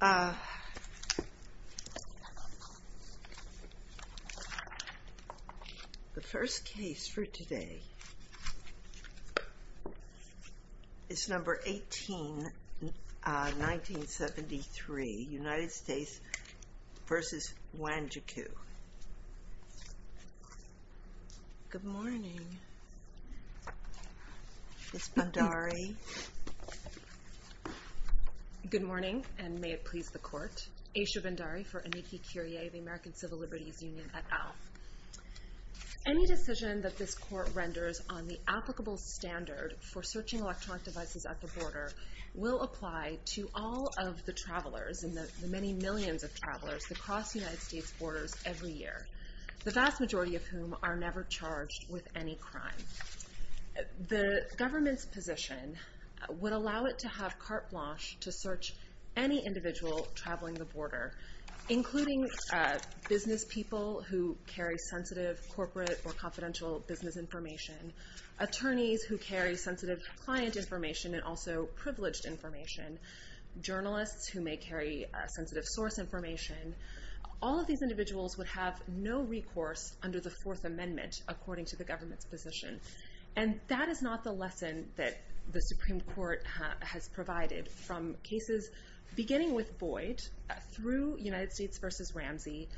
The first case for today is number 18, 1973, United States v. Wanjiku. Good morning. It's Bhandari. Good morning, and may it please the Court. Aisha Bhandari for Enniki Curie, the American Civil Liberties Union at ALF. Any decision that this Court renders on the applicable standard for searching electronic devices at the border will apply to all of the travelers and the many millions of travelers that cross United States borders every year, the vast majority of whom are never charged with any crime. The government's position would allow it to have carte blanche to search any individual traveling the border, including business people who carry sensitive corporate or confidential business information, attorneys who carry sensitive client information and also privileged information, journalists who may carry sensitive source information. All of these individuals would have no recourse under the Fourth Amendment, according to the government's position. And that is not the lesson that the Supreme Court has provided from cases beginning with Boyd, through United States v. Ramsey,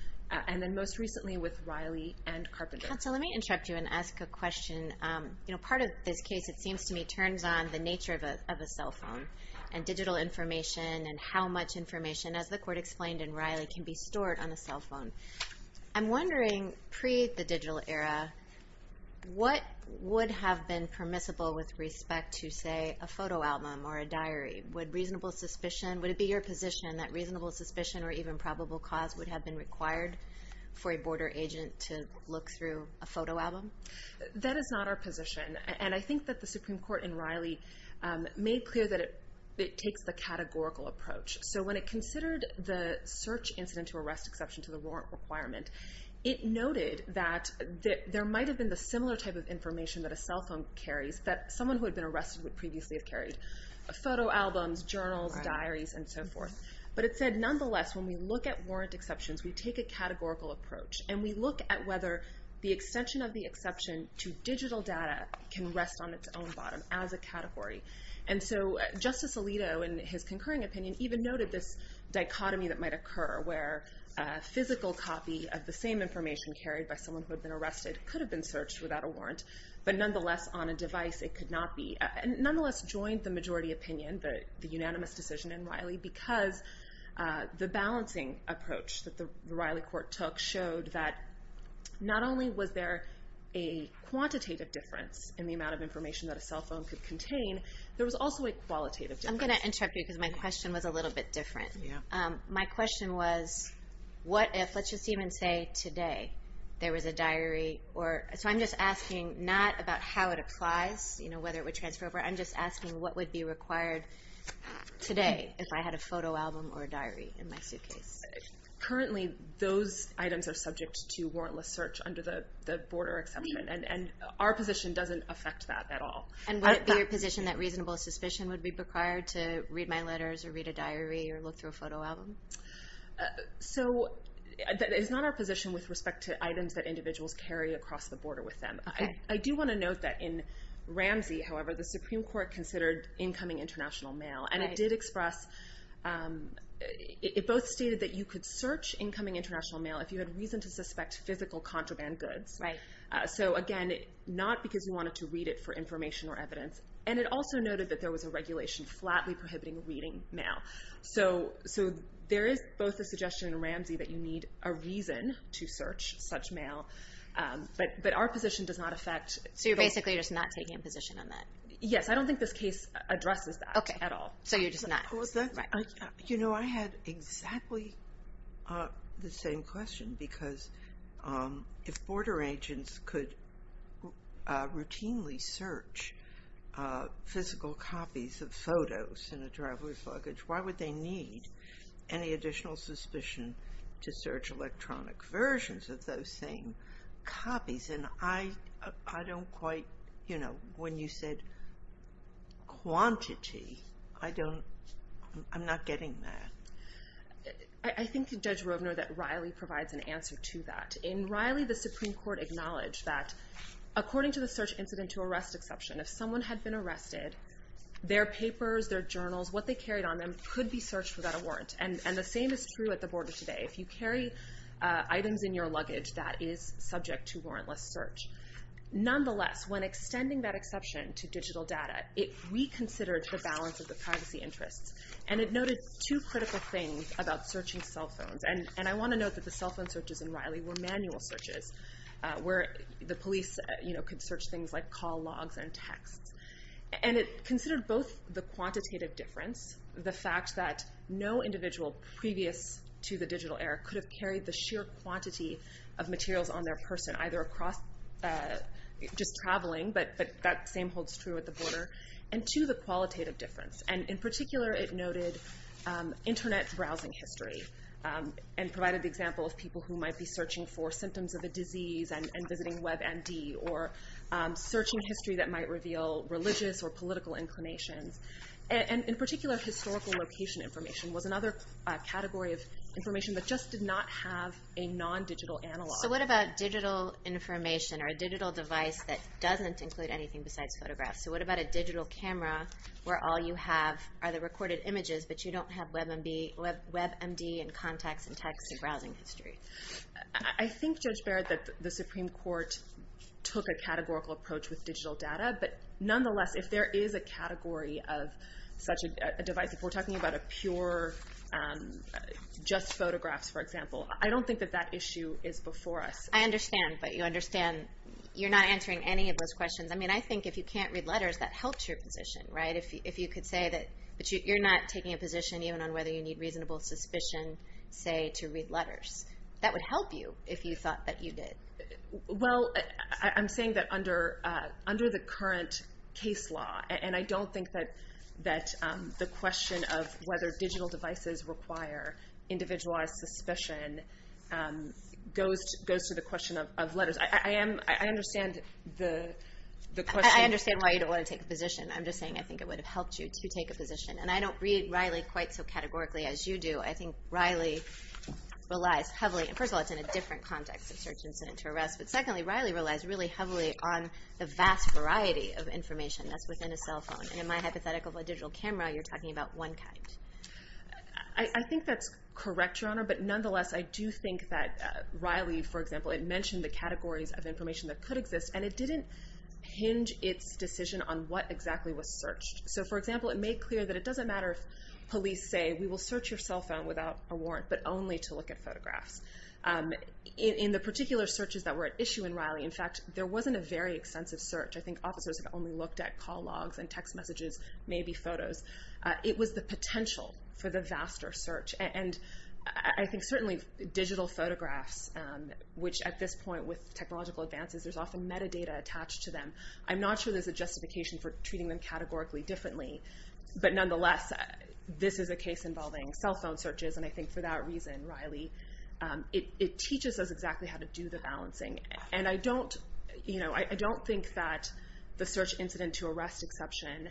and then most recently with Riley and Carpenter. Counsel, let me interrupt you and ask a question. Part of this case, it seems to me, turns on the nature of a cell phone and digital information and how much information, as the Court explained in Riley, can be stored on a cell phone. I'm wondering, pre the digital era, what would have been permissible with respect to, say, a photo album or a diary? Would it be your position that reasonable suspicion or even probable cause would have been required for a border agent to look through a photo album? That is not our position. And I think that the Supreme Court in Riley made clear that it takes the categorical approach. So when it considered the search incident to arrest exception to the warrant requirement, it noted that there might have been the similar type of information that a cell phone carries that someone who had been arrested would previously have carried. Photo albums, journals, diaries, and so forth. But it said, nonetheless, when we look at warrant exceptions, we take a categorical approach. And we look at whether the extension of the exception to digital data can rest on its own bottom as a category. And so Justice Alito, in his concurring opinion, even noted this dichotomy that might occur where a physical copy of the same information carried by someone who had been arrested could have been searched without a warrant, but nonetheless on a device it could not be. Nonetheless, joined the majority opinion, the unanimous decision in Riley, because the balancing approach that the Riley court took showed that not only was there a quantitative difference in the amount of information that a cell phone could contain, there was also a qualitative difference. I'm going to interrupt you because my question was a little bit different. My question was, what if, let's just even say today, there was a diary or... So I'm just asking not about how it applies, whether it would transfer over. I'm just asking what would be required today, if I had a photo album or a diary in my suitcase? Currently those items are subject to warrantless search under the border exception. And our position doesn't affect that at all. And would it be your position that reasonable suspicion would be required to read my letters or read a diary or look through a photo album? So that is not our position with respect to items that individuals carry across the border with them. I do want to note that in Ramsey, however, the Supreme Court considered incoming international mail. And it did express... It both stated that you could search incoming international mail if you had reason to suspect physical contraband goods. So again, not because you wanted to read it for information or evidence. And it also noted that there was a regulation flatly prohibiting reading mail. So there is both a suggestion in Ramsey that you need a reason to search such mail, but our position does not affect... So you're basically just not taking a position on that? Yes. I don't think this case addresses that at all. So you're just not... You know, I had exactly the same question because if border agents could routinely search physical copies of photos in a driver's luggage, why would they need any additional suspicion to search electronic versions of those same copies? And I don't quite... You know, when you said quantity, I don't... I'm not getting that. I think Judge Rovner that Riley provides an answer to that. In Riley, the Supreme Court acknowledged that according to the search incident to arrest exception, if someone had been arrested, their papers, their journals, what they carried on them could be searched without a warrant. And the same is true at the border today. If you carry items in your possession to digital data, it reconsidered the balance of the privacy interests, and it noted two critical things about searching cell phones. And I want to note that the cell phone searches in Riley were manual searches, where the police could search things like call logs and texts. And it considered both the quantitative difference, the fact that no individual previous to the digital era could have carried the sheer quantity of materials on their person, either across... Just traveling, but that same holds true at the border. And two, the qualitative difference. And in particular, it noted internet browsing history, and provided the example of people who might be searching for symptoms of a disease and visiting WebMD, or searching history that might reveal religious or political inclinations. And in particular, historical location information was another category of information that just did not have a non-digital analog. So what about digital information, or a digital device that doesn't include anything besides photographs? So what about a digital camera where all you have are the recorded images, but you don't have WebMD and contacts and texts and browsing history? I think, Judge Barrett, that the Supreme Court took a categorical approach with digital data. But nonetheless, if there is a category of such a device, if we're talking about a pure... Just photographs, for example, I don't think that that issue is before us. I understand, but you understand... You're not answering any of those questions. I mean, I think if you can't read letters, that helps your position, right? If you could say that you're not taking a position, even on whether you need reasonable suspicion, say, to read letters. That would help you if you thought that you did. Well, I'm saying that under the current case law, and I don't think that the question of whether digital devices require individualized suspicion goes to the question of letters. I understand the question... I understand why you don't want to take a position. I'm just saying I think it would have helped you to take a position. And I don't read Riley quite so categorically as you do. I think Riley relies heavily... First of all, it's in a different context, a search incident to arrest. But secondly, Riley relies really heavily on the vast variety of information that's within a cell phone. And in my hypothetical of a digital camera, you're talking about one kind. I think that's correct, Your Honor. But nonetheless, I do think that Riley, for example, it mentioned the categories of information that could exist, and it didn't hinge its decision on what exactly was searched. So for example, it made clear that it doesn't matter if police say, we will In the particular searches that were at issue in Riley, in fact, there wasn't a very extensive search. I think officers have only looked at call logs and text messages, maybe photos. It was the potential for the vaster search. And I think certainly digital photographs, which at this point with technological advances, there's often metadata attached to them. I'm not sure there's a justification for treating them categorically differently. But nonetheless, this is a case involving cell phone searches. And I think for that reason, Riley, it teaches us exactly how to do the balancing. And I don't think that the search incident to arrest exception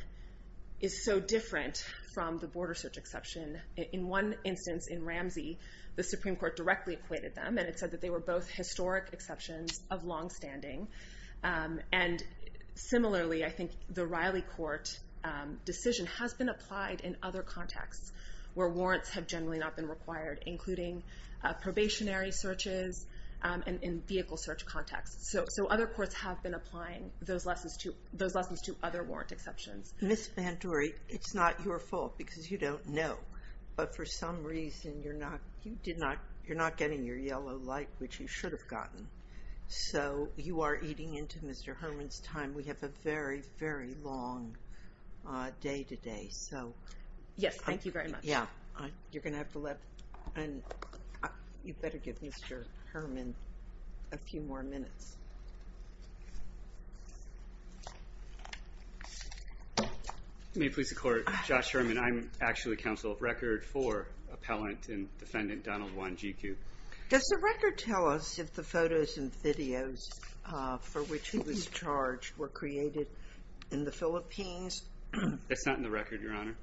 is so different from the border search exception. In one instance in Ramsey, the Supreme Court directly acquitted them, and it said that they were both historic exceptions of longstanding. And similarly, I think the Riley court decision has been applied in other contexts where warrants have generally not been required, including probationary searches and in vehicle search contexts. So other courts have been applying those lessons to other warrant exceptions. Ms. Banduri, it's not your fault because you don't know. But for some reason, you're not getting your yellow light, which you should have gotten. So you are eating into Mr. Herman's time. We have a very, very long day today. Yes, thank you very much. You're going to have to let... You better give Mr. Herman a few more minutes. May it please the Court, Josh Herman. I'm actually counsel of record for appellant and defendant Donald Wanjiku. Does the record tell us if the photos and footage were created in the Philippines? That's not in the record, Your Honor.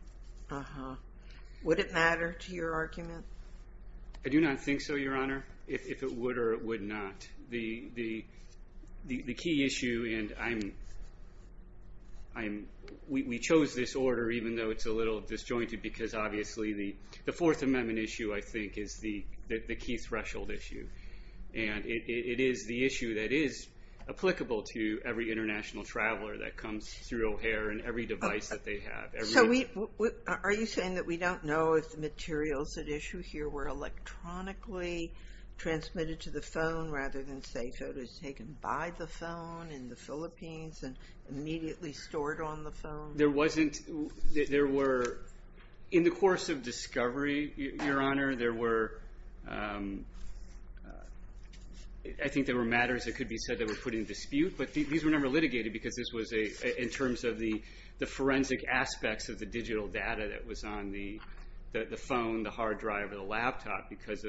Would it matter to your argument? I do not think so, Your Honor, if it would or it would not. The key issue, and we chose this order even though it's a little disjointed because obviously the Fourth Amendment issue, I think, is the key threshold issue. And it is the issue that is applicable to every international traveler that comes through O'Hare and every device that they have. Are you saying that we don't know if the materials at issue here were electronically transmitted to the phone rather than, say, photos taken by the phone in the Philippines and immediately stored on the phone? In the course of discovery, Your Honor, there were... I think there were matters that could be said that were put in dispute, but these were never litigated because this was in terms of the forensic aspects of the digital data that was on the phone, the hard drive, or the laptop because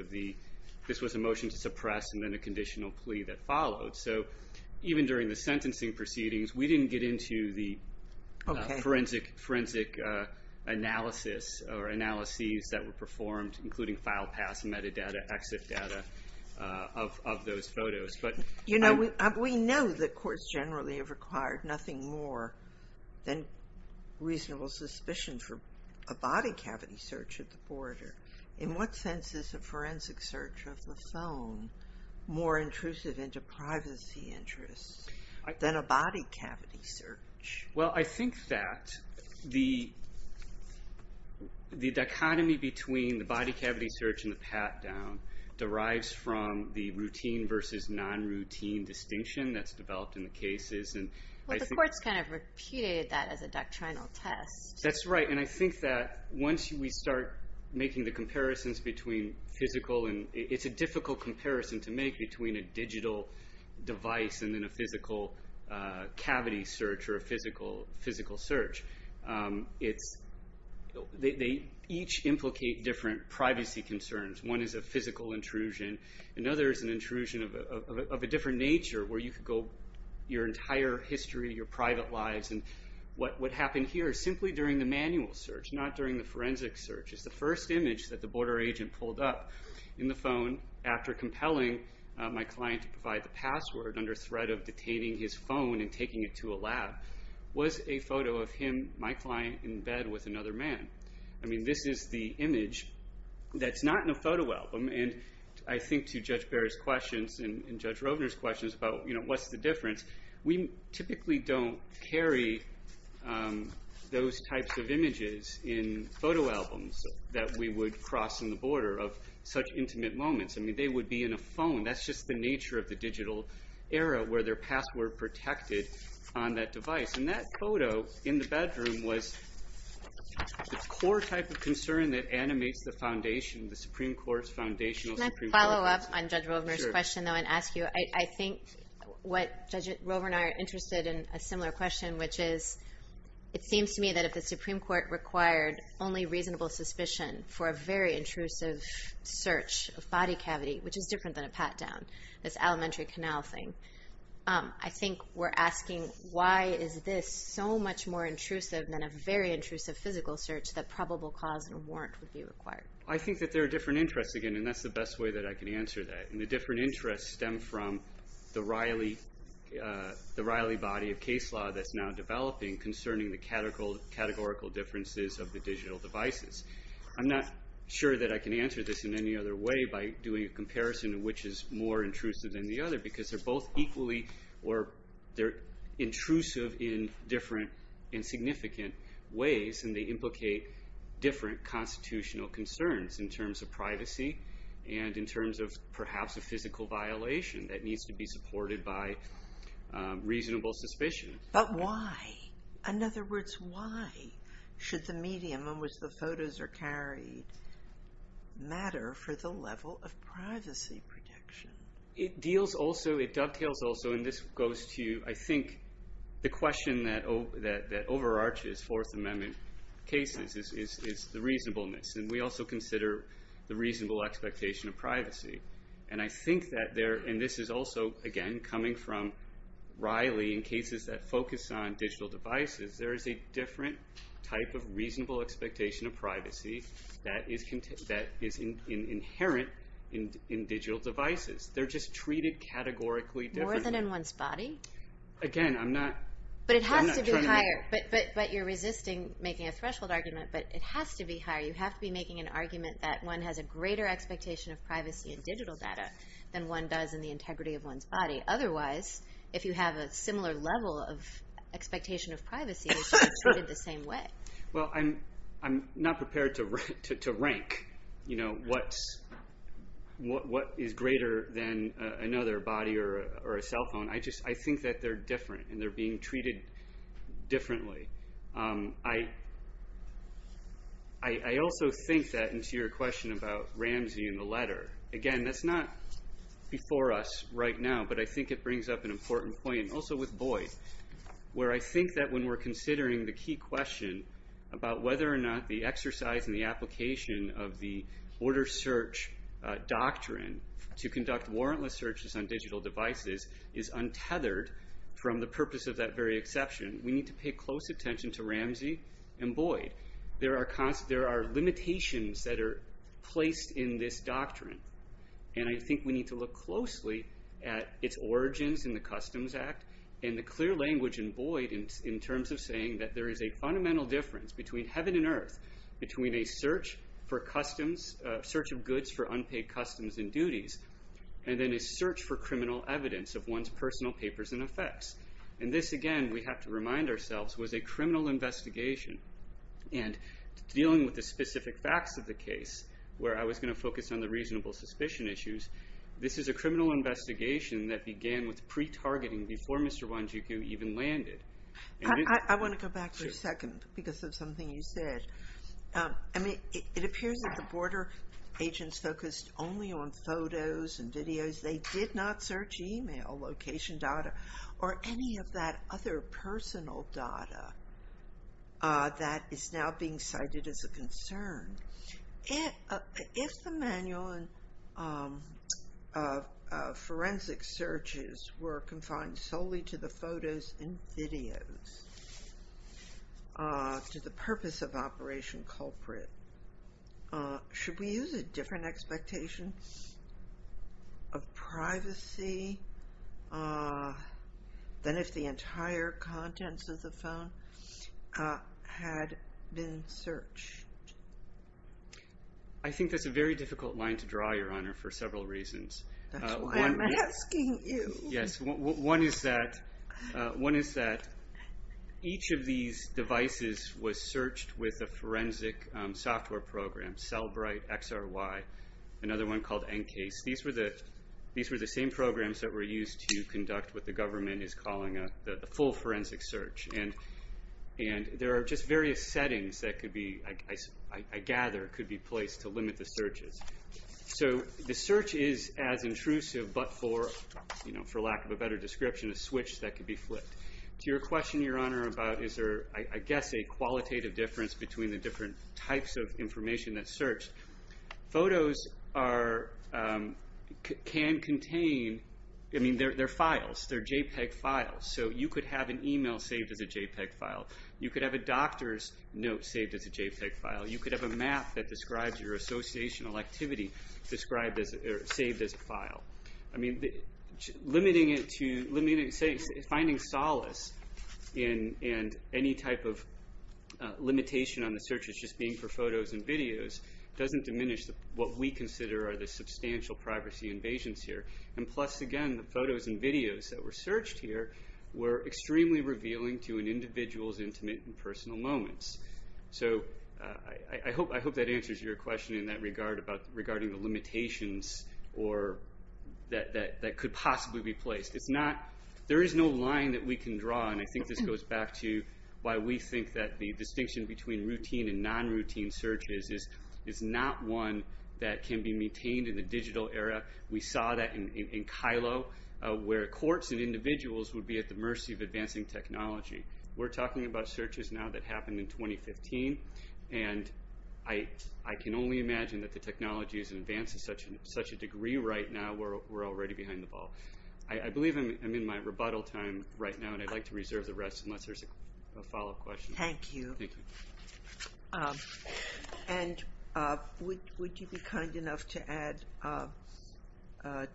this was a motion to suppress and then a conditional plea that followed. So even during the sentencing proceedings, we didn't get into the forensic analysis or analyses that were performed, including file pass, metadata, exit data of those photos. You know, we know that courts generally have required nothing more than reasonable suspicion for a body cavity search at the border. In what sense is a forensic search of the phone more intrusive into privacy interests than a body cavity search? Well, I think that the dichotomy between the body cavity search and the pat-down derives from the routine versus non-routine distinction that's developed in the cases and... Well, the courts kind of repeated that as a doctrinal test. That's right, and I think that once we start making the comparisons between physical and... The comparison to make between a digital device and then a physical cavity search or a physical search, they each implicate different privacy concerns. One is a physical intrusion. Another is an intrusion of a different nature where you could go your entire history, your private lives, and what happened here simply during the manual search, not during the forensic search, is the first image that the border agent pulled up in the phone after compelling my client to provide the password under threat of detaining his phone and taking it to a lab was a photo of him, my client, in bed with another man. I mean, this is the image that's not in a photo album, and I think to Judge Bair's questions and Judge Rovner's questions about what's the difference, we typically don't carry those types of images in photo albums that we would cross in the border of such intimate moments. I mean, they would be in a phone. That's just the nature of the digital era where their password protected on that device, and that photo in the bedroom was the core type of concern that animates the foundation, the Supreme Court's foundational Supreme Court policy. Can I follow up on Judge Rovner's question, though, and ask you? Sure. I think what Judge Rovner and I are interested in a similar question, which is it seems to me that if the Supreme Court required only reasonable suspicion for a very intrusive search of body cavity, which is different than a pat-down, this elementary canal thing, I think we're asking why is this so much more intrusive than a very intrusive physical search that probable cause and warrant would be required? I think that there are different interests, again, and that's the best way that I can answer that. And the different interests stem from the Riley body of case law that's now I'm not sure that I can answer this in any other way by doing a comparison of which is more intrusive than the other, because they're both equally or they're intrusive in different and significant ways, and they implicate different constitutional concerns in terms of privacy and in terms of perhaps a physical violation that needs to be supported by reasonable suspicion. But why? In other words, why should the medium in which the photos are carried matter for the level of privacy protection? It deals also, it dovetails also, and this goes to, I think, the question that overarches Fourth Amendment cases is the reasonableness, and we also consider the reasonable expectation of privacy. And I think that there, and this is also, again, coming from Riley in cases that focus on digital devices, there is a different type of reasonable expectation of privacy that is inherent in digital devices. They're just treated categorically differently. More than in one's body? Again, I'm not trying to make But it has to be higher, but you're resisting making a threshold argument, but it has to be higher. You have to be making an argument that one has a greater expectation of privacy in digital data than one does in the integrity of one's body. Otherwise, if you have a similar level of expectation of privacy, it's treated the same way. Well, I'm not prepared to rank what is greater than another body or a cell phone. I just think that they're different, and they're being treated differently. I also think that in addition to your question about Ramsey and the letter, again, that's not before us right now, but I think it brings up an important point, and also with Boyd, where I think that when we're considering the key question about whether or not the exercise in the application of the border search doctrine to conduct warrantless searches on digital devices is untethered from the purpose of that very exception, we need to pay close attention to the limitations that are placed in this doctrine. I think we need to look closely at its origins in the Customs Act, and the clear language in Boyd in terms of saying that there is a fundamental difference between heaven and earth, between a search for customs, a search of goods for unpaid customs and duties, and then a search for criminal evidence of one's personal papers and effects. This, again, we have to remind ourselves, was a criminal investigation. Dealing with the specific facts of the case, where I was going to focus on the reasonable suspicion issues, this is a criminal investigation that began with pre-targeting before Mr. Wanjiku even landed. I want to go back for a second, because of something you said. It appears that the border agents focused only on photos and videos. They did not search email location data, or any of that other personal data that is now being cited as a concern. If the manual and forensic searches were confined solely to the photos and videos, to the purpose of Operation Culprit, should we use a different expectation of privacy? Should we use a different expectation than if the entire contents of the phone had been searched? I think that's a very difficult line to draw, Your Honor, for several reasons. That's why I'm asking you. One is that each of these devices was searched with a forensic software program, Cellbrite XRY, another one called NCASE. These were the same programs that were used to conduct what the government is calling a full forensic search. There are just various settings that I gather could be placed to limit the searches. The search is as intrusive, but for lack of a better description, a switch that could be flipped. To your question, Your Honor, about is there, I guess, a qualitative difference between the different types of information that's searched, photos can contain their files. They're JPEG files, so you could have an email saved as a JPEG file. You could have a doctor's note saved as a JPEG file. You could have a map that describes your associational activity saved as a file. Limiting it to finding solace in any type of limitation on the searches just being for photos and videos doesn't diminish what we consider are the substantial privacy invasions here. Plus, again, the photos and videos that were searched here were extremely revealing to an individual's intimate and personal moments. I hope that answers your question in that regard regarding the limitations that could possibly be placed. There is no line that we can draw, and I think this goes back to why we think that the distinction between routine and non-routine searches is not one that can be maintained in the digital era. We saw that in Kylo, where courts and individuals would be at the mercy of advancing technology. We're talking about searches now that happened in 2015, and I can only imagine that the technology has advanced to such a degree right now where we're already behind the ball. I believe I'm in my rebuttal time right now, and I'd like to reserve the rest unless there's a follow-up question. Thank you. And would you be kind enough to add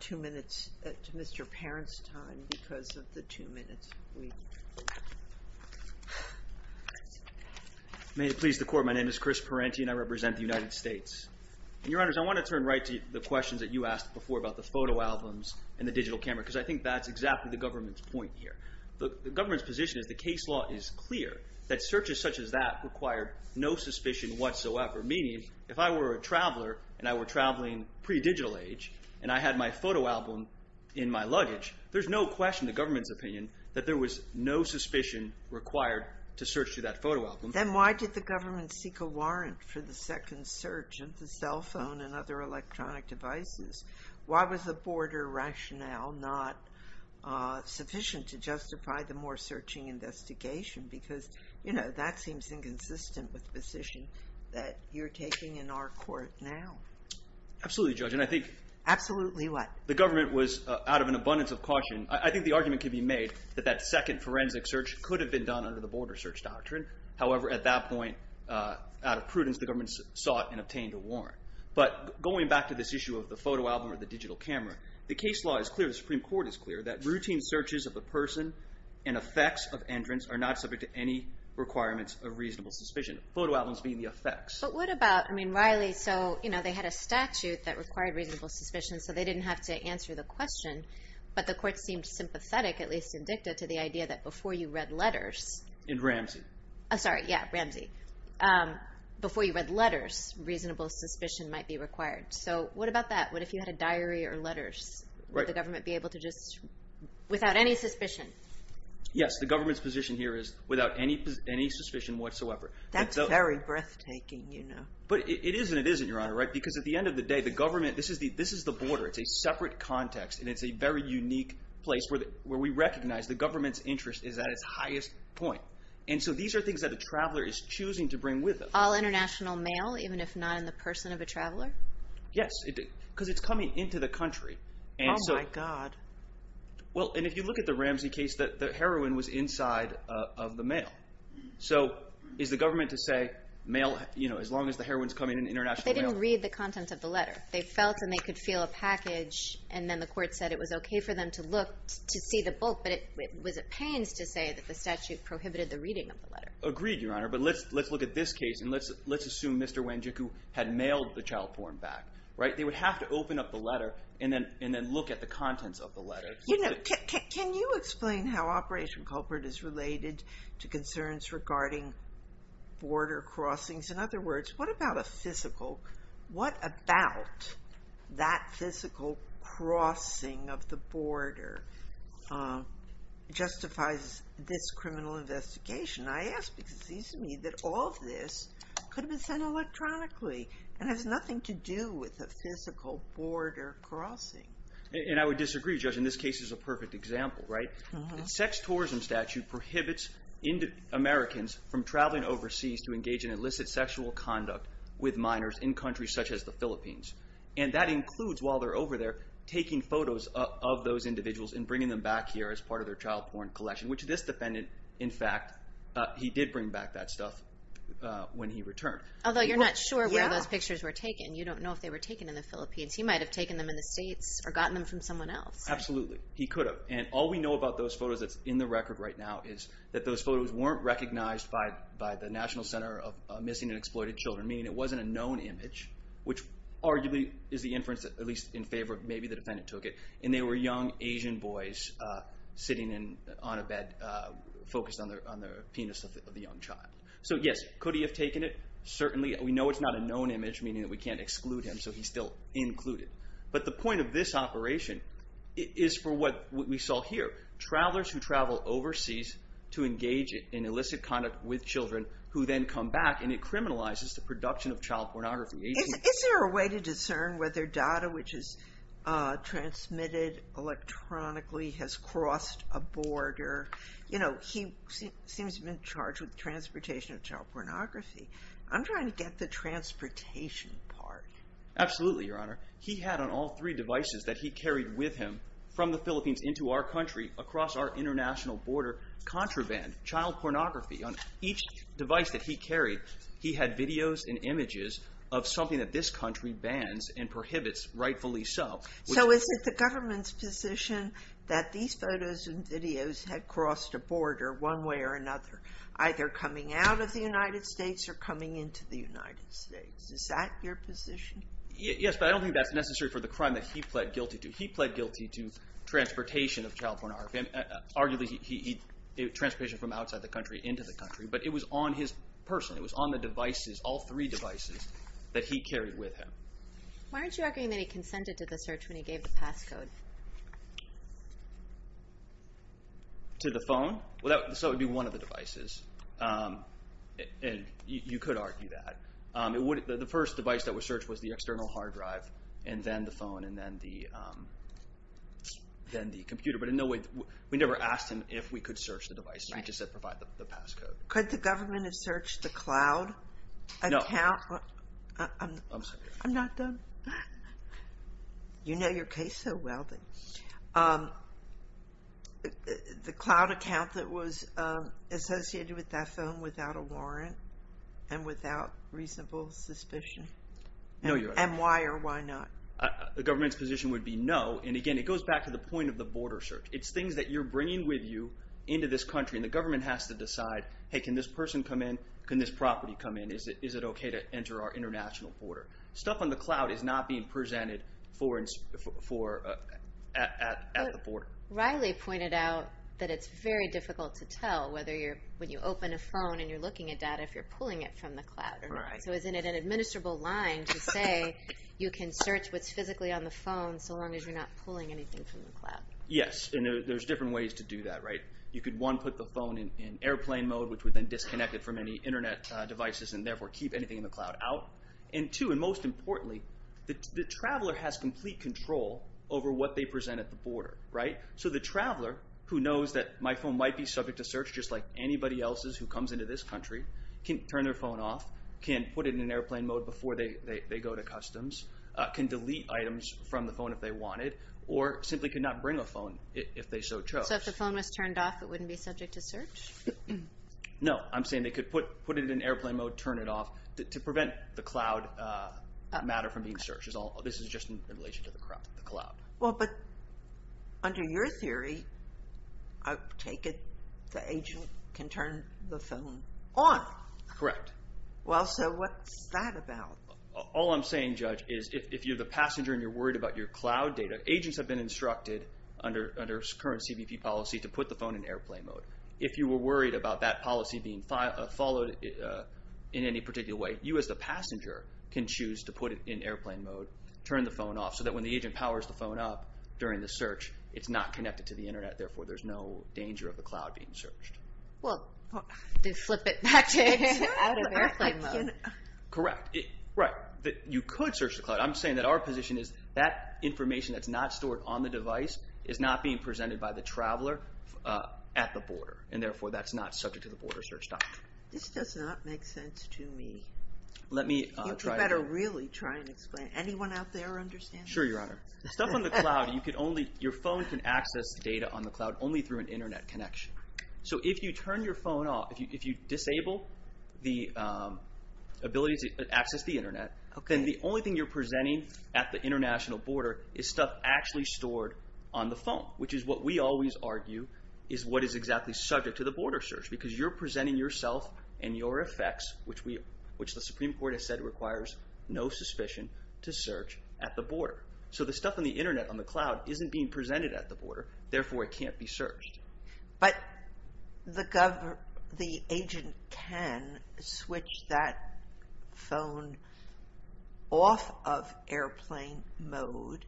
two minutes to Mr. Parent's time, because of the two minutes we've... May it please the Court, my name is Chris Parenti, and I represent the United States. Your Honors, I want to turn right to the questions that you asked before about the photo albums and the digital camera, because I think that's exactly the government's point here. The government's position is the case law is clear, that searches such as that require no suspicion whatsoever, meaning if I were a traveler, and I were traveling pre-digital age, and I had my photo album in my luggage, there's no question in the government's opinion that there was no suspicion required to search through that photo album. Then why did the government seek a warrant for the second search of the cell phone and other electronic devices? Why was the border rationale not sufficient to justify the more searching investigation? Because that seems inconsistent with the position that you're taking in our court now. Absolutely, Judge, and I think... Absolutely what? The government was out of an abundance of caution. I think the argument could be made that that second forensic search could have been done under the border search doctrine. However, at that point, out of prudence, the government sought and obtained a warrant. But going back to this issue of the photo album or the digital camera, the case law is clear, the Supreme Court is clear, that routine searches of the person and effects of entrance are not subject to any requirements of reasonable suspicion, photo albums being the effects. But what about... I mean, Riley, so they had a statute that required reasonable suspicion, so they didn't have to answer the question, but the court seemed sympathetic, at least indicted, to the idea that before you read letters... In Ramsey. Sorry, yeah, Ramsey. Before you read letters, reasonable suspicion might be required. So what about that? What if you had a diary or letters? Would the government be able to just... Without any suspicion. Yes, the government's position here is without any suspicion whatsoever. That's very breathtaking, you know. But it is and it isn't, Your Honor, right? Because at the end of the day, the government... This is the border. It's a separate context, and it's a very unique place where we recognize the government's interest is at its highest point. And so these are things that a traveler is choosing to bring with them. All international mail, even if not in the person of a traveler? Yes, because it's coming into the country. Oh, my God. Well, and if you look at the Ramsey case, the heroine was inside of the mail. So is the government to say, as long as the heroine's coming in, international mail? They didn't read the content of the letter. They felt and they could feel a package, and then the court said it was okay for them to look to see the bulk, but it was a pains to say that the statute prohibited the reading of the letter. Agreed, Your Honor, but let's look at this case, and let's assume Mr. Wanjiku had mailed the child porn back. They would have to open up the letter and then look at the contents of the letter. Can you explain how Operation Culprit is related to concerns regarding border crossings? In other words, what about that physical crossing of the border justifies this criminal investigation? I ask because it seems to me that all of this could have been sent electronically and has nothing to do with a physical border crossing. And I would disagree, Judge, and this case is a perfect example, right? The sex tourism statute prohibits Americans from traveling overseas to engage in illicit sexual conduct with minors in countries such as the Philippines, and that includes, while they're over there, taking photos of those individuals and bringing them back here as part of their child porn collection, which this defendant, in fact, he did bring back that stuff when he returned. Although you're not sure where those pictures were taken. You don't know if they were taken in the Philippines. He might have taken them in the States or gotten them from someone else. Absolutely. He could have, and all we know about those photos that's in the record right now is that those photos weren't recognized by the National Center of Missing and Exploited Children, meaning it wasn't a known image, which arguably is the inference, at least in favor of maybe the defendant took it, and they were young Asian boys sitting on a bed focused on the penis of the young child. So yes, could he have taken it? Certainly. We know it's not a known image, meaning that we can't exclude him, so he's still included. But the point of this operation is for what we saw here. Travelers who travel overseas to engage in illicit conduct with children who then come back, and it criminalizes the production of child pornography. Is there a way to discern whether data which is transmitted electronically has crossed a border? You know, he seems to have been charged with transportation of child pornography. I'm trying to get the transportation part. Absolutely, Your Honor. He had on all three devices that he carried with him from the Philippines into our country across our international border contraband, child pornography. On each device that he carried, he had videos and images of something that this country bans and prohibits, rightfully so. So is it the government's position that these photos and videos had crossed a border one way or another, either coming out of the United States or coming into the United States? Is that your position? Yes, but I don't think that's necessary for the crime that he pled guilty to. He pled guilty to transportation of child pornography. Arguably, transportation from outside the country, but it was on his person. It was on the devices, all three devices that he carried with him. Why aren't you arguing that he consented to the search when he gave the passcode? To the phone? Well, that would be one of the devices, and you could argue that. The first device that was searched was the external hard drive, and then the phone, and then the computer, but in no way, we never asked him if we could search the device. We just said by the passcode. Could the government have searched the cloud account? No. I'm not done. You know your case so well. The cloud account that was associated with that phone without a warrant and without reasonable suspicion, and why or why not? The government's position would be no, and again, it goes back to the point of the border search. It's things that you're bringing with you into this country, and the government has to decide, hey, can this person come in? Can this property come in? Is it okay to enter our international border? Stuff on the cloud is not being presented at the border. Riley pointed out that it's very difficult to tell whether you're, when you open a phone and you're looking at data, if you're pulling it from the cloud or not. So isn't it an administrable line to say you can search what's physically on the phone so long as you're not pulling anything from the cloud? Yes, and there's different ways to do that, right? You could, one, put the phone in airplane mode, which would then disconnect it from any internet devices and therefore keep anything in the cloud out, and two, and most importantly, the traveler has complete control over what they present at the border, right? So the traveler, who knows that my phone might be subject to search just like anybody else's who comes into this country, can turn their phone off, can put it in an airplane mode before they go to customs, can delete items from the phone if they wanted, or simply could not bring a phone if they so chose. So if the phone was turned off, it wouldn't be subject to search? No, I'm saying they could put it in airplane mode, turn it off, to prevent the cloud matter from being searched. This is just in relation to the cloud. Well, but under your theory, I take it the agent can turn the phone on. Correct. Well, so what's that about? All I'm saying, Judge, is if you're the passenger and you're worried about your cloud data, agents have been instructed under current CBP policy to put the phone in airplane mode. If you were worried about that policy being followed in any particular way, you as the passenger can choose to put it in airplane mode, turn the phone off, so that when the agent powers the phone up during the search, it's not connected to the internet, therefore there's no danger of the cloud being searched. Well, they'd flip it back out of airplane mode. Correct. Right. You could search the cloud. I'm saying that our position is that information that's not stored on the device is not being presented by the traveler at the border, and therefore that's not subject to the border search document. This does not make sense to me. Let me try to- You better really try and explain. Anyone out there understand? Sure, Your Honor. Stuff on the cloud, you could only, your phone can access data on the cloud only through an internet connection. If you turn your phone off, if you disable the ability to access the internet, then the only thing you're presenting at the international border is stuff actually stored on the phone, which is what we always argue is what is exactly subject to the border search, because you're presenting yourself and your effects, which the Supreme Court has said requires no suspicion to search at the border. The stuff on the internet, on the cloud, isn't being presented at the border, therefore it can't be searched. But the agent can switch that phone off of airplane mode,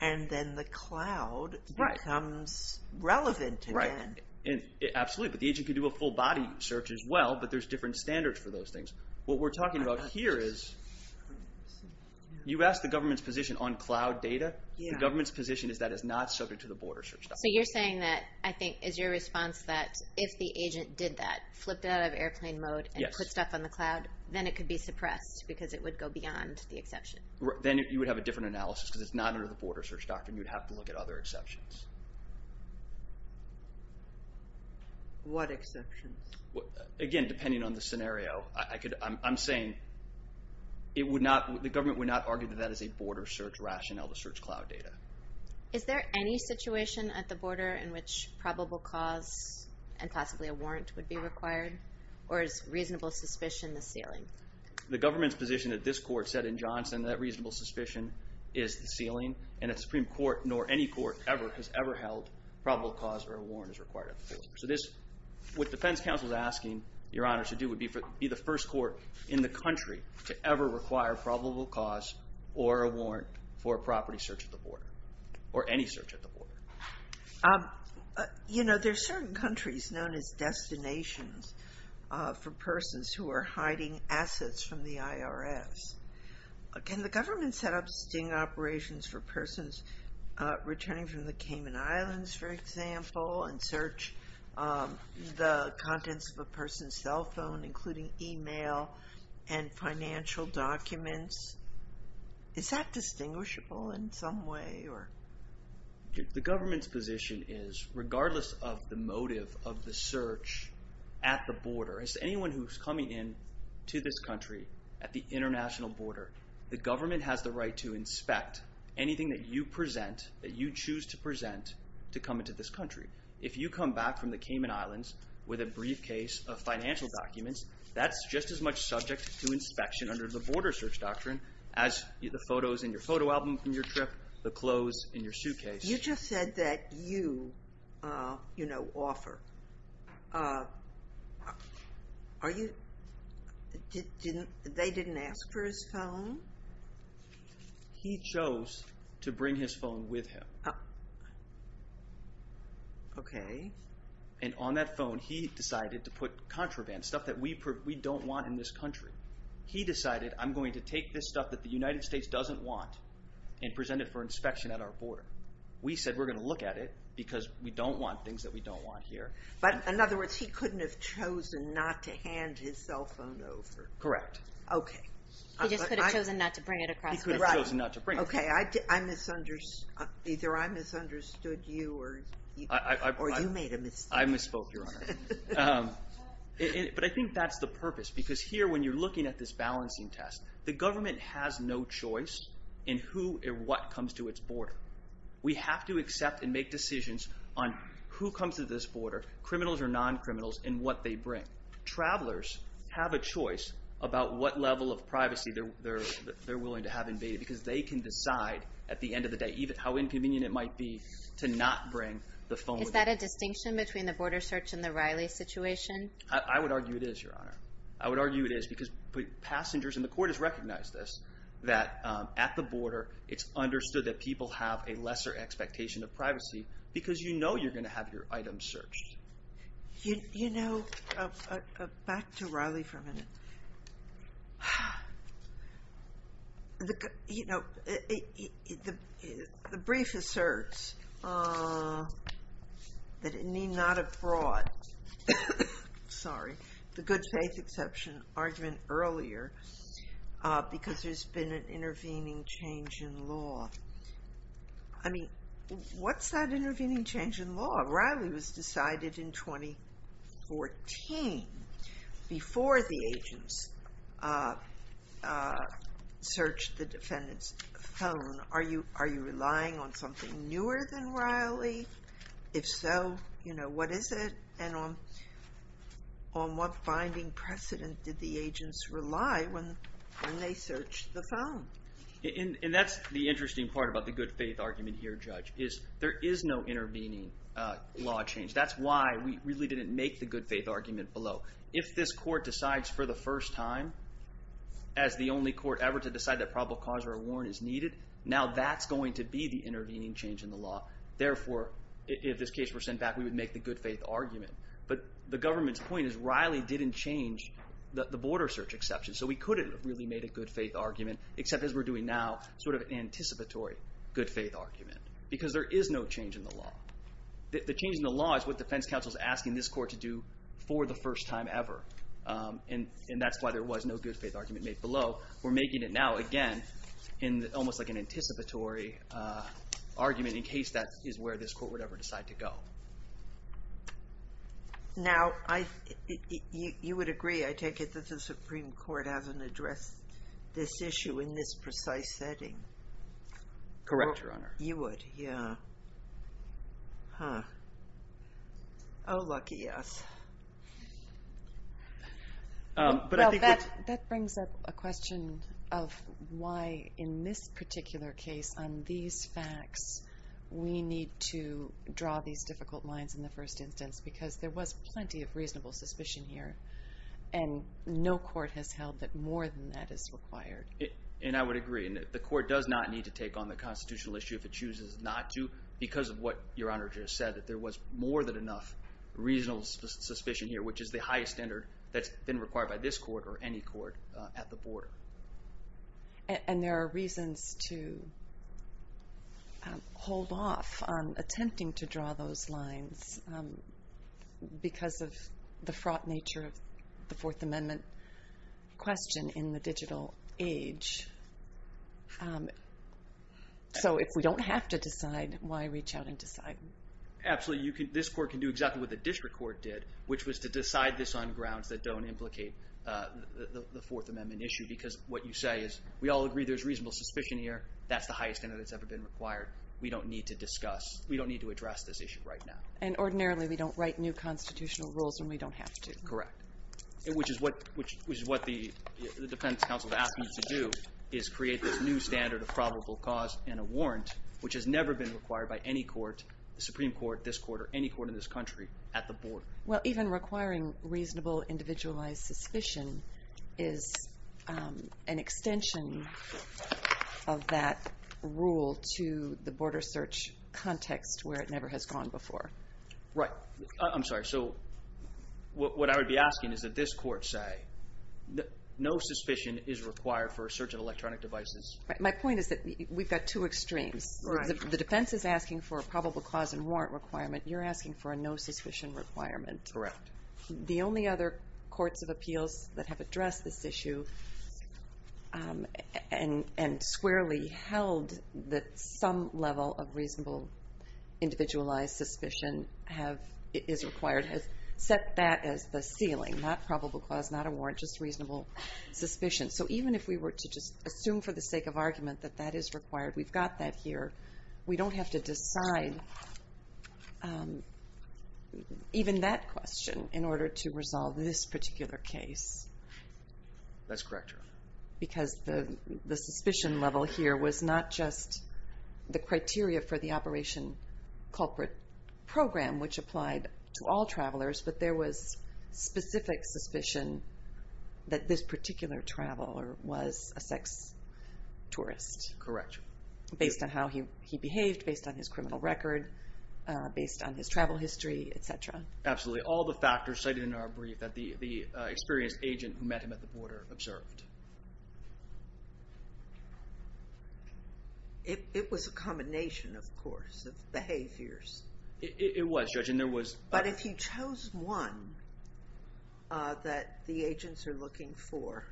and then the cloud becomes relevant again. Right. Absolutely, but the agent can do a full body search as well, but there's different standards for those things. What we're talking about here is, you asked the government's position on cloud data, the government's position is that it's not subject to the border search document. So you're saying that, I think, is your response that if the agent did that, flipped out of airplane mode, and put stuff on the cloud, then it could be suppressed, because it would go beyond the exception? Then you would have a different analysis, because it's not under the border search doctrine, you would have to look at other exceptions. What exceptions? Again, depending on the scenario, I'm saying it would not, the government would not argue that that is a border search rationale to search cloud data. Is there any situation at the border in which probable cause, and possibly a warrant, would be required, or is reasonable suspicion the ceiling? The government's position at this court said in Johnson that reasonable suspicion is the ceiling, and a Supreme Court, nor any court ever, has ever held probable cause or a warrant is required at the border. So this, what defense counsel is asking Your Honor to do would be for it to be the first court in the country to ever require probable cause or a warrant for a property search at the border, or any search at the border. You know, there's certain countries known as destinations for persons who are hiding assets from the IRS. Can the government set up sting operations for persons returning from the Cayman Islands, for example, and search the contents of a person's cell phone, including email and financial documents? Is that distinguishable in some way, or? The government's position is, regardless of the motive of the search at the border, anyone who's coming in to this country at the international border, the government has the right to inspect anything that you present, that you choose to present, to come into this country. If you come back from the Cayman Islands with a briefcase of financial documents, that's just as much subject to inspection under the border search doctrine as the photos in your photo album from your trip, the clothes in your suitcase. You just said that you, you know, offer. Are you, didn't, they didn't ask for his phone? He chose to bring his phone with him. Okay. And on that phone, he decided to put contraband, stuff that we don't want in this country. He decided, I'm going to take this stuff that the United States doesn't want and present it for inspection at our border. We said, we're going to look at it because we don't want things that we don't want here. But in other words, he couldn't have chosen not to hand his cell phone over. Correct. Okay. He just could have chosen not to bring it across the border. Right. He could have chosen not to bring it. Okay. I misunderstood. Either I misunderstood you or you made a mistake. I misspoke, Your Honor. But I think that's the purpose because here when you're looking at this balancing test, the government has no choice in who or what comes to its border. We have to accept and make decisions on who comes to this border, criminals or non-criminals and what they bring. Travelers have a choice about what level of privacy they're willing to have invaded because they can decide at the end of the day how inconvenient it might be to not bring the phone with them. Is that a distinction between the border search and the Riley situation? I would argue it is, Your Honor. I would argue it is because passengers, and the court has recognized this, that at the border it's understood that people have a lesser expectation of privacy because you know you're going to have your items searched. You know, back to Riley for a minute. You know, the brief asserts that it need not have brought, sorry, the good faith exception argument earlier because there's been an intervening change in law. I mean, what's that intervening change in law? Riley was decided in 2014 before the agents searched the defendant's phone. Are you relying on something newer than Riley? If so, you know, what is it and on what binding precedent did the agents rely when they searched the phone? And that's the interesting part about the good faith argument here, Judge, is there is no intervening law change. That's why we really didn't make the good faith argument below. If this court decides for the first time as the only court ever to decide that probable cause or a warrant is needed, now that's going to be the intervening change in the law. Therefore, if this case were sent back, we would make the good faith argument. But the government's point is Riley didn't change the border search exception. So we couldn't have really made a good faith argument except as we're doing now, sort of a change in the law. The change in the law is what defense counsel is asking this court to do for the first time ever. And that's why there was no good faith argument made below. We're making it now, again, in almost like an anticipatory argument in case that is where this court would ever decide to go. Now you would agree, I take it, that the Supreme Court hasn't addressed this issue in this precise setting. Correct, Your Honor. You would, yeah. Huh. Oh, lucky us. Well, that brings up a question of why, in this particular case, on these facts, we need to draw these difficult lines in the first instance because there was plenty of reasonable suspicion here. And no court has held that more than that is required. And I would agree. The court does not need to take on the constitutional issue if it chooses not to because of what Your Honor just said, that there was more than enough reasonable suspicion here, which is the highest standard that's been required by this court or any court at the border. And there are reasons to hold off on attempting to draw those lines because of the fraught nature of the Fourth Amendment question in the digital age. So if we don't have to decide, why reach out and decide? Absolutely. This court can do exactly what the district court did, which was to decide this on grounds that don't implicate the Fourth Amendment issue. Because what you say is, we all agree there's reasonable suspicion here. That's the highest standard that's ever been required. We don't need to discuss, we don't need to address this issue right now. And ordinarily, we don't write new constitutional rules when we don't have to. Correct. Which is what the defense counsel has asked me to do, is create this new standard of probable cause and a warrant, which has never been required by any court, the Supreme Court, this court, or any court in this country at the border. Well, even requiring reasonable individualized suspicion is an extension of that rule to the border search context, where it never has gone before. Right. I'm sorry. So what I would be asking is that this court say, no suspicion is required for a search of electronic devices. Right. My point is that we've got two extremes. The defense is asking for a probable cause and warrant requirement. You're asking for a no suspicion requirement. Correct. The only other courts of appeals that have addressed this issue and squarely held that some level of reasonable individualized suspicion is required, has set that as the ceiling. Not probable cause, not a warrant, just reasonable suspicion. So even if we were to just assume for the sake of argument that that is required, we've got that here. We don't have to decide even that question in order to resolve this particular case. That's correct, Your Honor. Because the suspicion level here was not just the criteria for the Operation Culprit program, which applied to all travelers, but there was specific suspicion that this particular traveler was a sex tourist. Correct. Based on how he behaved, based on his criminal record, based on his travel history, et cetera. Absolutely. All the factors cited in our brief that the experienced agent who met him at the border observed. It was a combination, of course, of behaviors. It was, Judge. And there was... But if you chose one that the agents are looking for,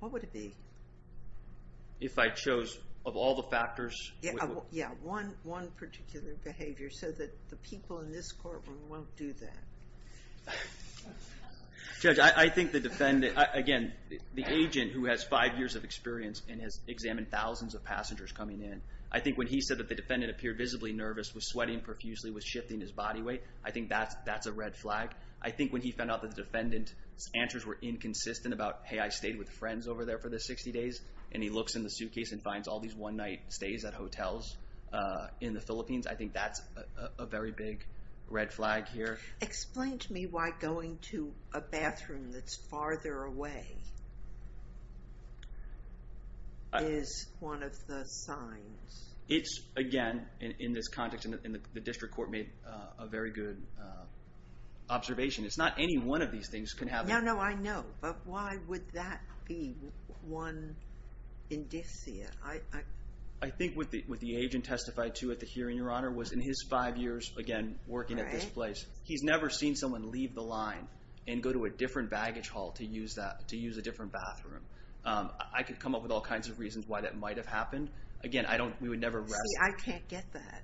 what would it be? If I chose, of all the factors... Yeah. One particular behavior, so that the people in this courtroom won't do that. Judge, I think the defendant, again, the agent who has five years of experience and has examined thousands of passengers coming in, I think when he said that the defendant appeared visibly nervous, was sweating profusely, was shifting his body weight, I think that's a red flag. I think when he found out that the defendant's answers were inconsistent about, hey, I stayed with friends over there for the 60 days, and he looks in the suitcase and finds all these one-night stays at hotels in the Philippines, I think that's a very big red flag here. Explain to me why going to a bathroom that's farther away is one of the signs. It's, again, in this context, and the district court made a very good observation, it's not any one of these things can happen. No, no, I know. But why would that be one indicia? I think what the agent testified to at the hearing, Your Honor, was in his five years, again, working at this place, he's never seen someone leave the line and go to a different baggage hall to use a different bathroom. I could come up with all kinds of reasons why that might have happened. Again, we would never arrest him. See, I can't get that.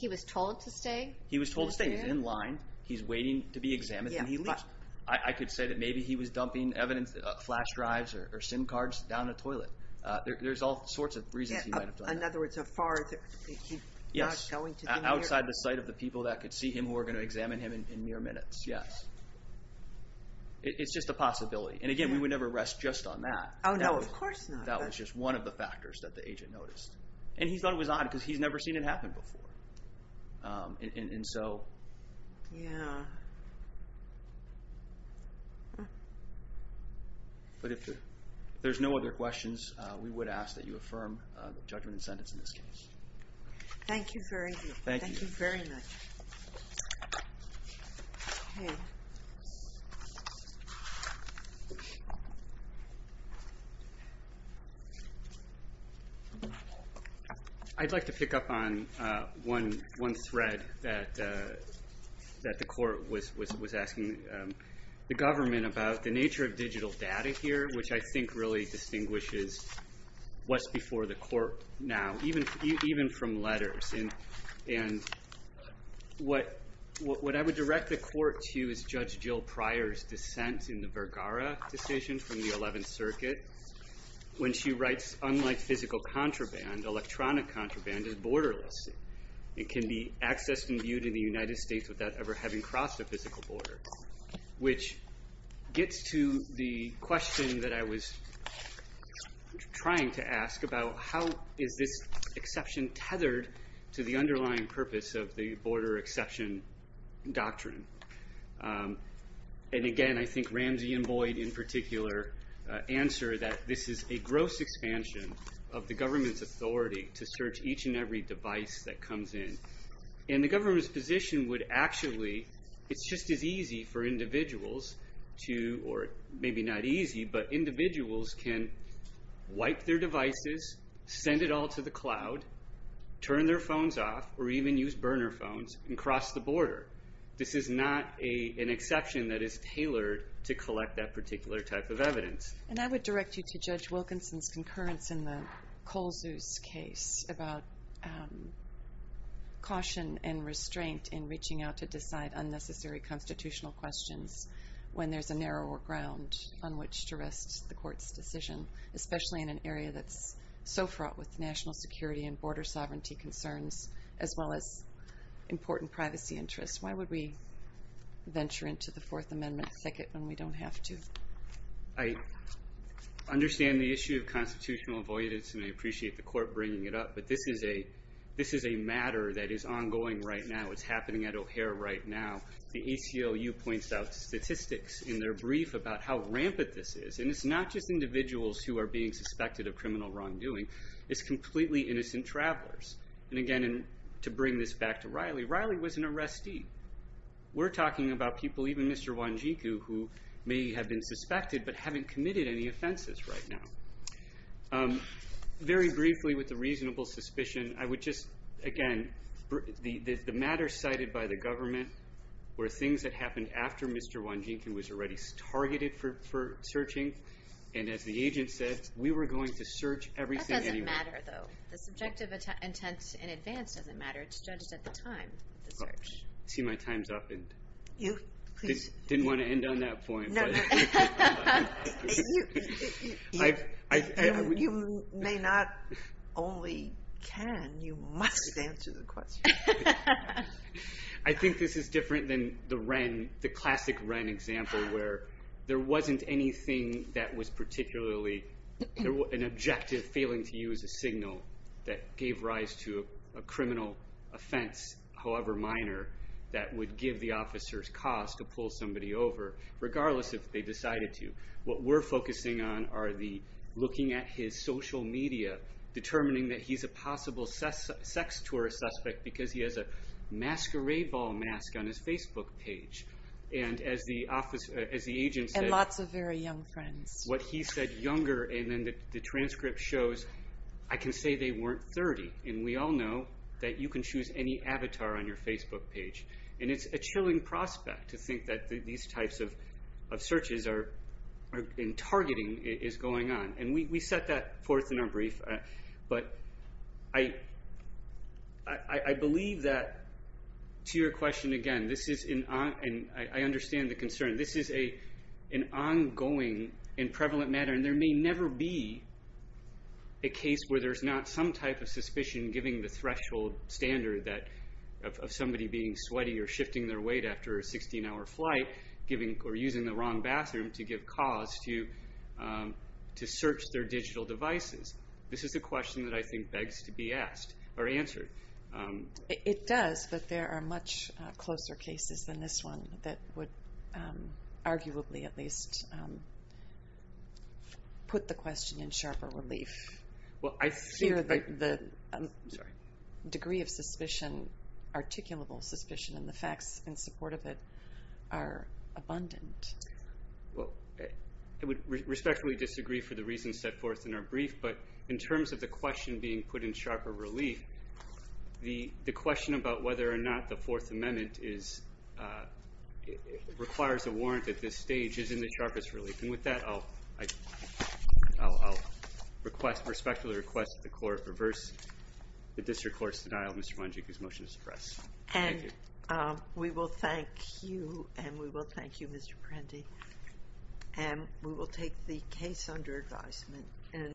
He was told to stay? He was told to stay. He's in line. He's waiting to be examined, then he leaves. I could say that maybe he was dumping evidence, flash drives or SIM cards, down the toilet. There's all sorts of reasons he might have done that. In other words, a far... Yes. He's not going to be near... Outside the sight of the people that could see him who were going to examine him in mere minutes, yes. It's just a possibility. And again, we would never arrest just on that. Oh, no, of course not. That was just one of the factors that the agent noticed. And he thought it was odd because he's never seen it happen before. And so... Yeah. But if there's no other questions, we would ask that you affirm judgment and sentence in this case. Thank you very much. Thank you. Thank you very much. Okay. I'd like to pick up on one thread that the court was asking the government about the nature of digital data here, which I think really distinguishes what's before the court now, even from letters. And what I would direct the court to is Judge Jill Pryor's dissent in the Vergara decision from the 11th Circuit, when she writes, unlike physical contraband, electronic contraband is borderless. It can be accessed and viewed in the United States without ever having crossed a physical border, which gets to the question that I was trying to ask about how is this exception being tethered to the underlying purpose of the border exception doctrine? And again, I think Ramsey and Boyd in particular answer that this is a gross expansion of the government's authority to search each and every device that comes in. And the government's position would actually, it's just as easy for individuals to, or maybe not easy, but individuals can wipe their devices, send it all to the cloud, turn their phones off, or even use burner phones, and cross the border. This is not an exception that is tailored to collect that particular type of evidence. And I would direct you to Judge Wilkinson's concurrence in the Kohl's case about caution and restraint in reaching out to decide unnecessary constitutional questions when there's a narrower ground on which to rest the court's decision, especially in an area that's so fraught with national security and border sovereignty concerns, as well as important privacy interests. Why would we venture into the Fourth Amendment thicket when we don't have to? I understand the issue of constitutional avoidance, and I appreciate the court bringing it up, but this is a matter that is ongoing right now. It's happening at O'Hare right now. The ACLU points out statistics in their brief about how rampant this is. And it's not just individuals who are being suspected of criminal wrongdoing. It's completely innocent travelers. And again, to bring this back to Riley, Riley was an arrestee. We're talking about people, even Mr. Wanjiku, who may have been suspected but haven't committed any offenses right now. Very briefly with the reasonable suspicion, I would just, again, the matter cited by the court, were things that happened after Mr. Wanjiku was already targeted for searching. And as the agent said, we were going to search everything anyway. That doesn't matter, though. The subjective intent in advance doesn't matter. It's judged at the time of the search. See, my time's up. And I didn't want to end on that point, but you may not only can, you must answer the question. I think this is different than the classic Wren example, where there wasn't anything that was particularly, an objective failing to use a signal that gave rise to a criminal offense, however minor, that would give the officer's cause to pull somebody over, regardless if they decided to. What we're focusing on are the looking at his social media, determining that he's a And as he has a masquerade ball mask on his Facebook page. And as the agent said, what he said younger, and then the transcript shows, I can say they weren't 30. And we all know that you can choose any avatar on your Facebook page. And it's a chilling prospect to think that these types of searches and targeting is going on. And we set that forth in our brief. But I believe that, to your question again, this is, and I understand the concern, this is an ongoing and prevalent matter. And there may never be a case where there's not some type of suspicion giving the threshold standard of somebody being sweaty or shifting their weight after a 16 hour flight, or using the wrong bathroom to give cause to search their digital devices. This is a question that I think begs to be asked, or answered. It does, but there are much closer cases than this one that would arguably, at least, put the question in sharper relief. Well I think- Here the degree of suspicion, articulable suspicion, and the facts in support of it are abundant. Well, I would respectfully disagree for the reasons set forth in our brief. But in terms of the question being put in sharper relief, the question about whether or not the Fourth Amendment is, requires a warrant at this stage, is in the sharpest relief. And with that, I'll request, respectfully request, that the Court reverse the District Court's denial of Mr. Mongeek's motion to suppress. Thank you. We will thank you, and we will thank you Mr. Prendy, and we will take the case under advisement.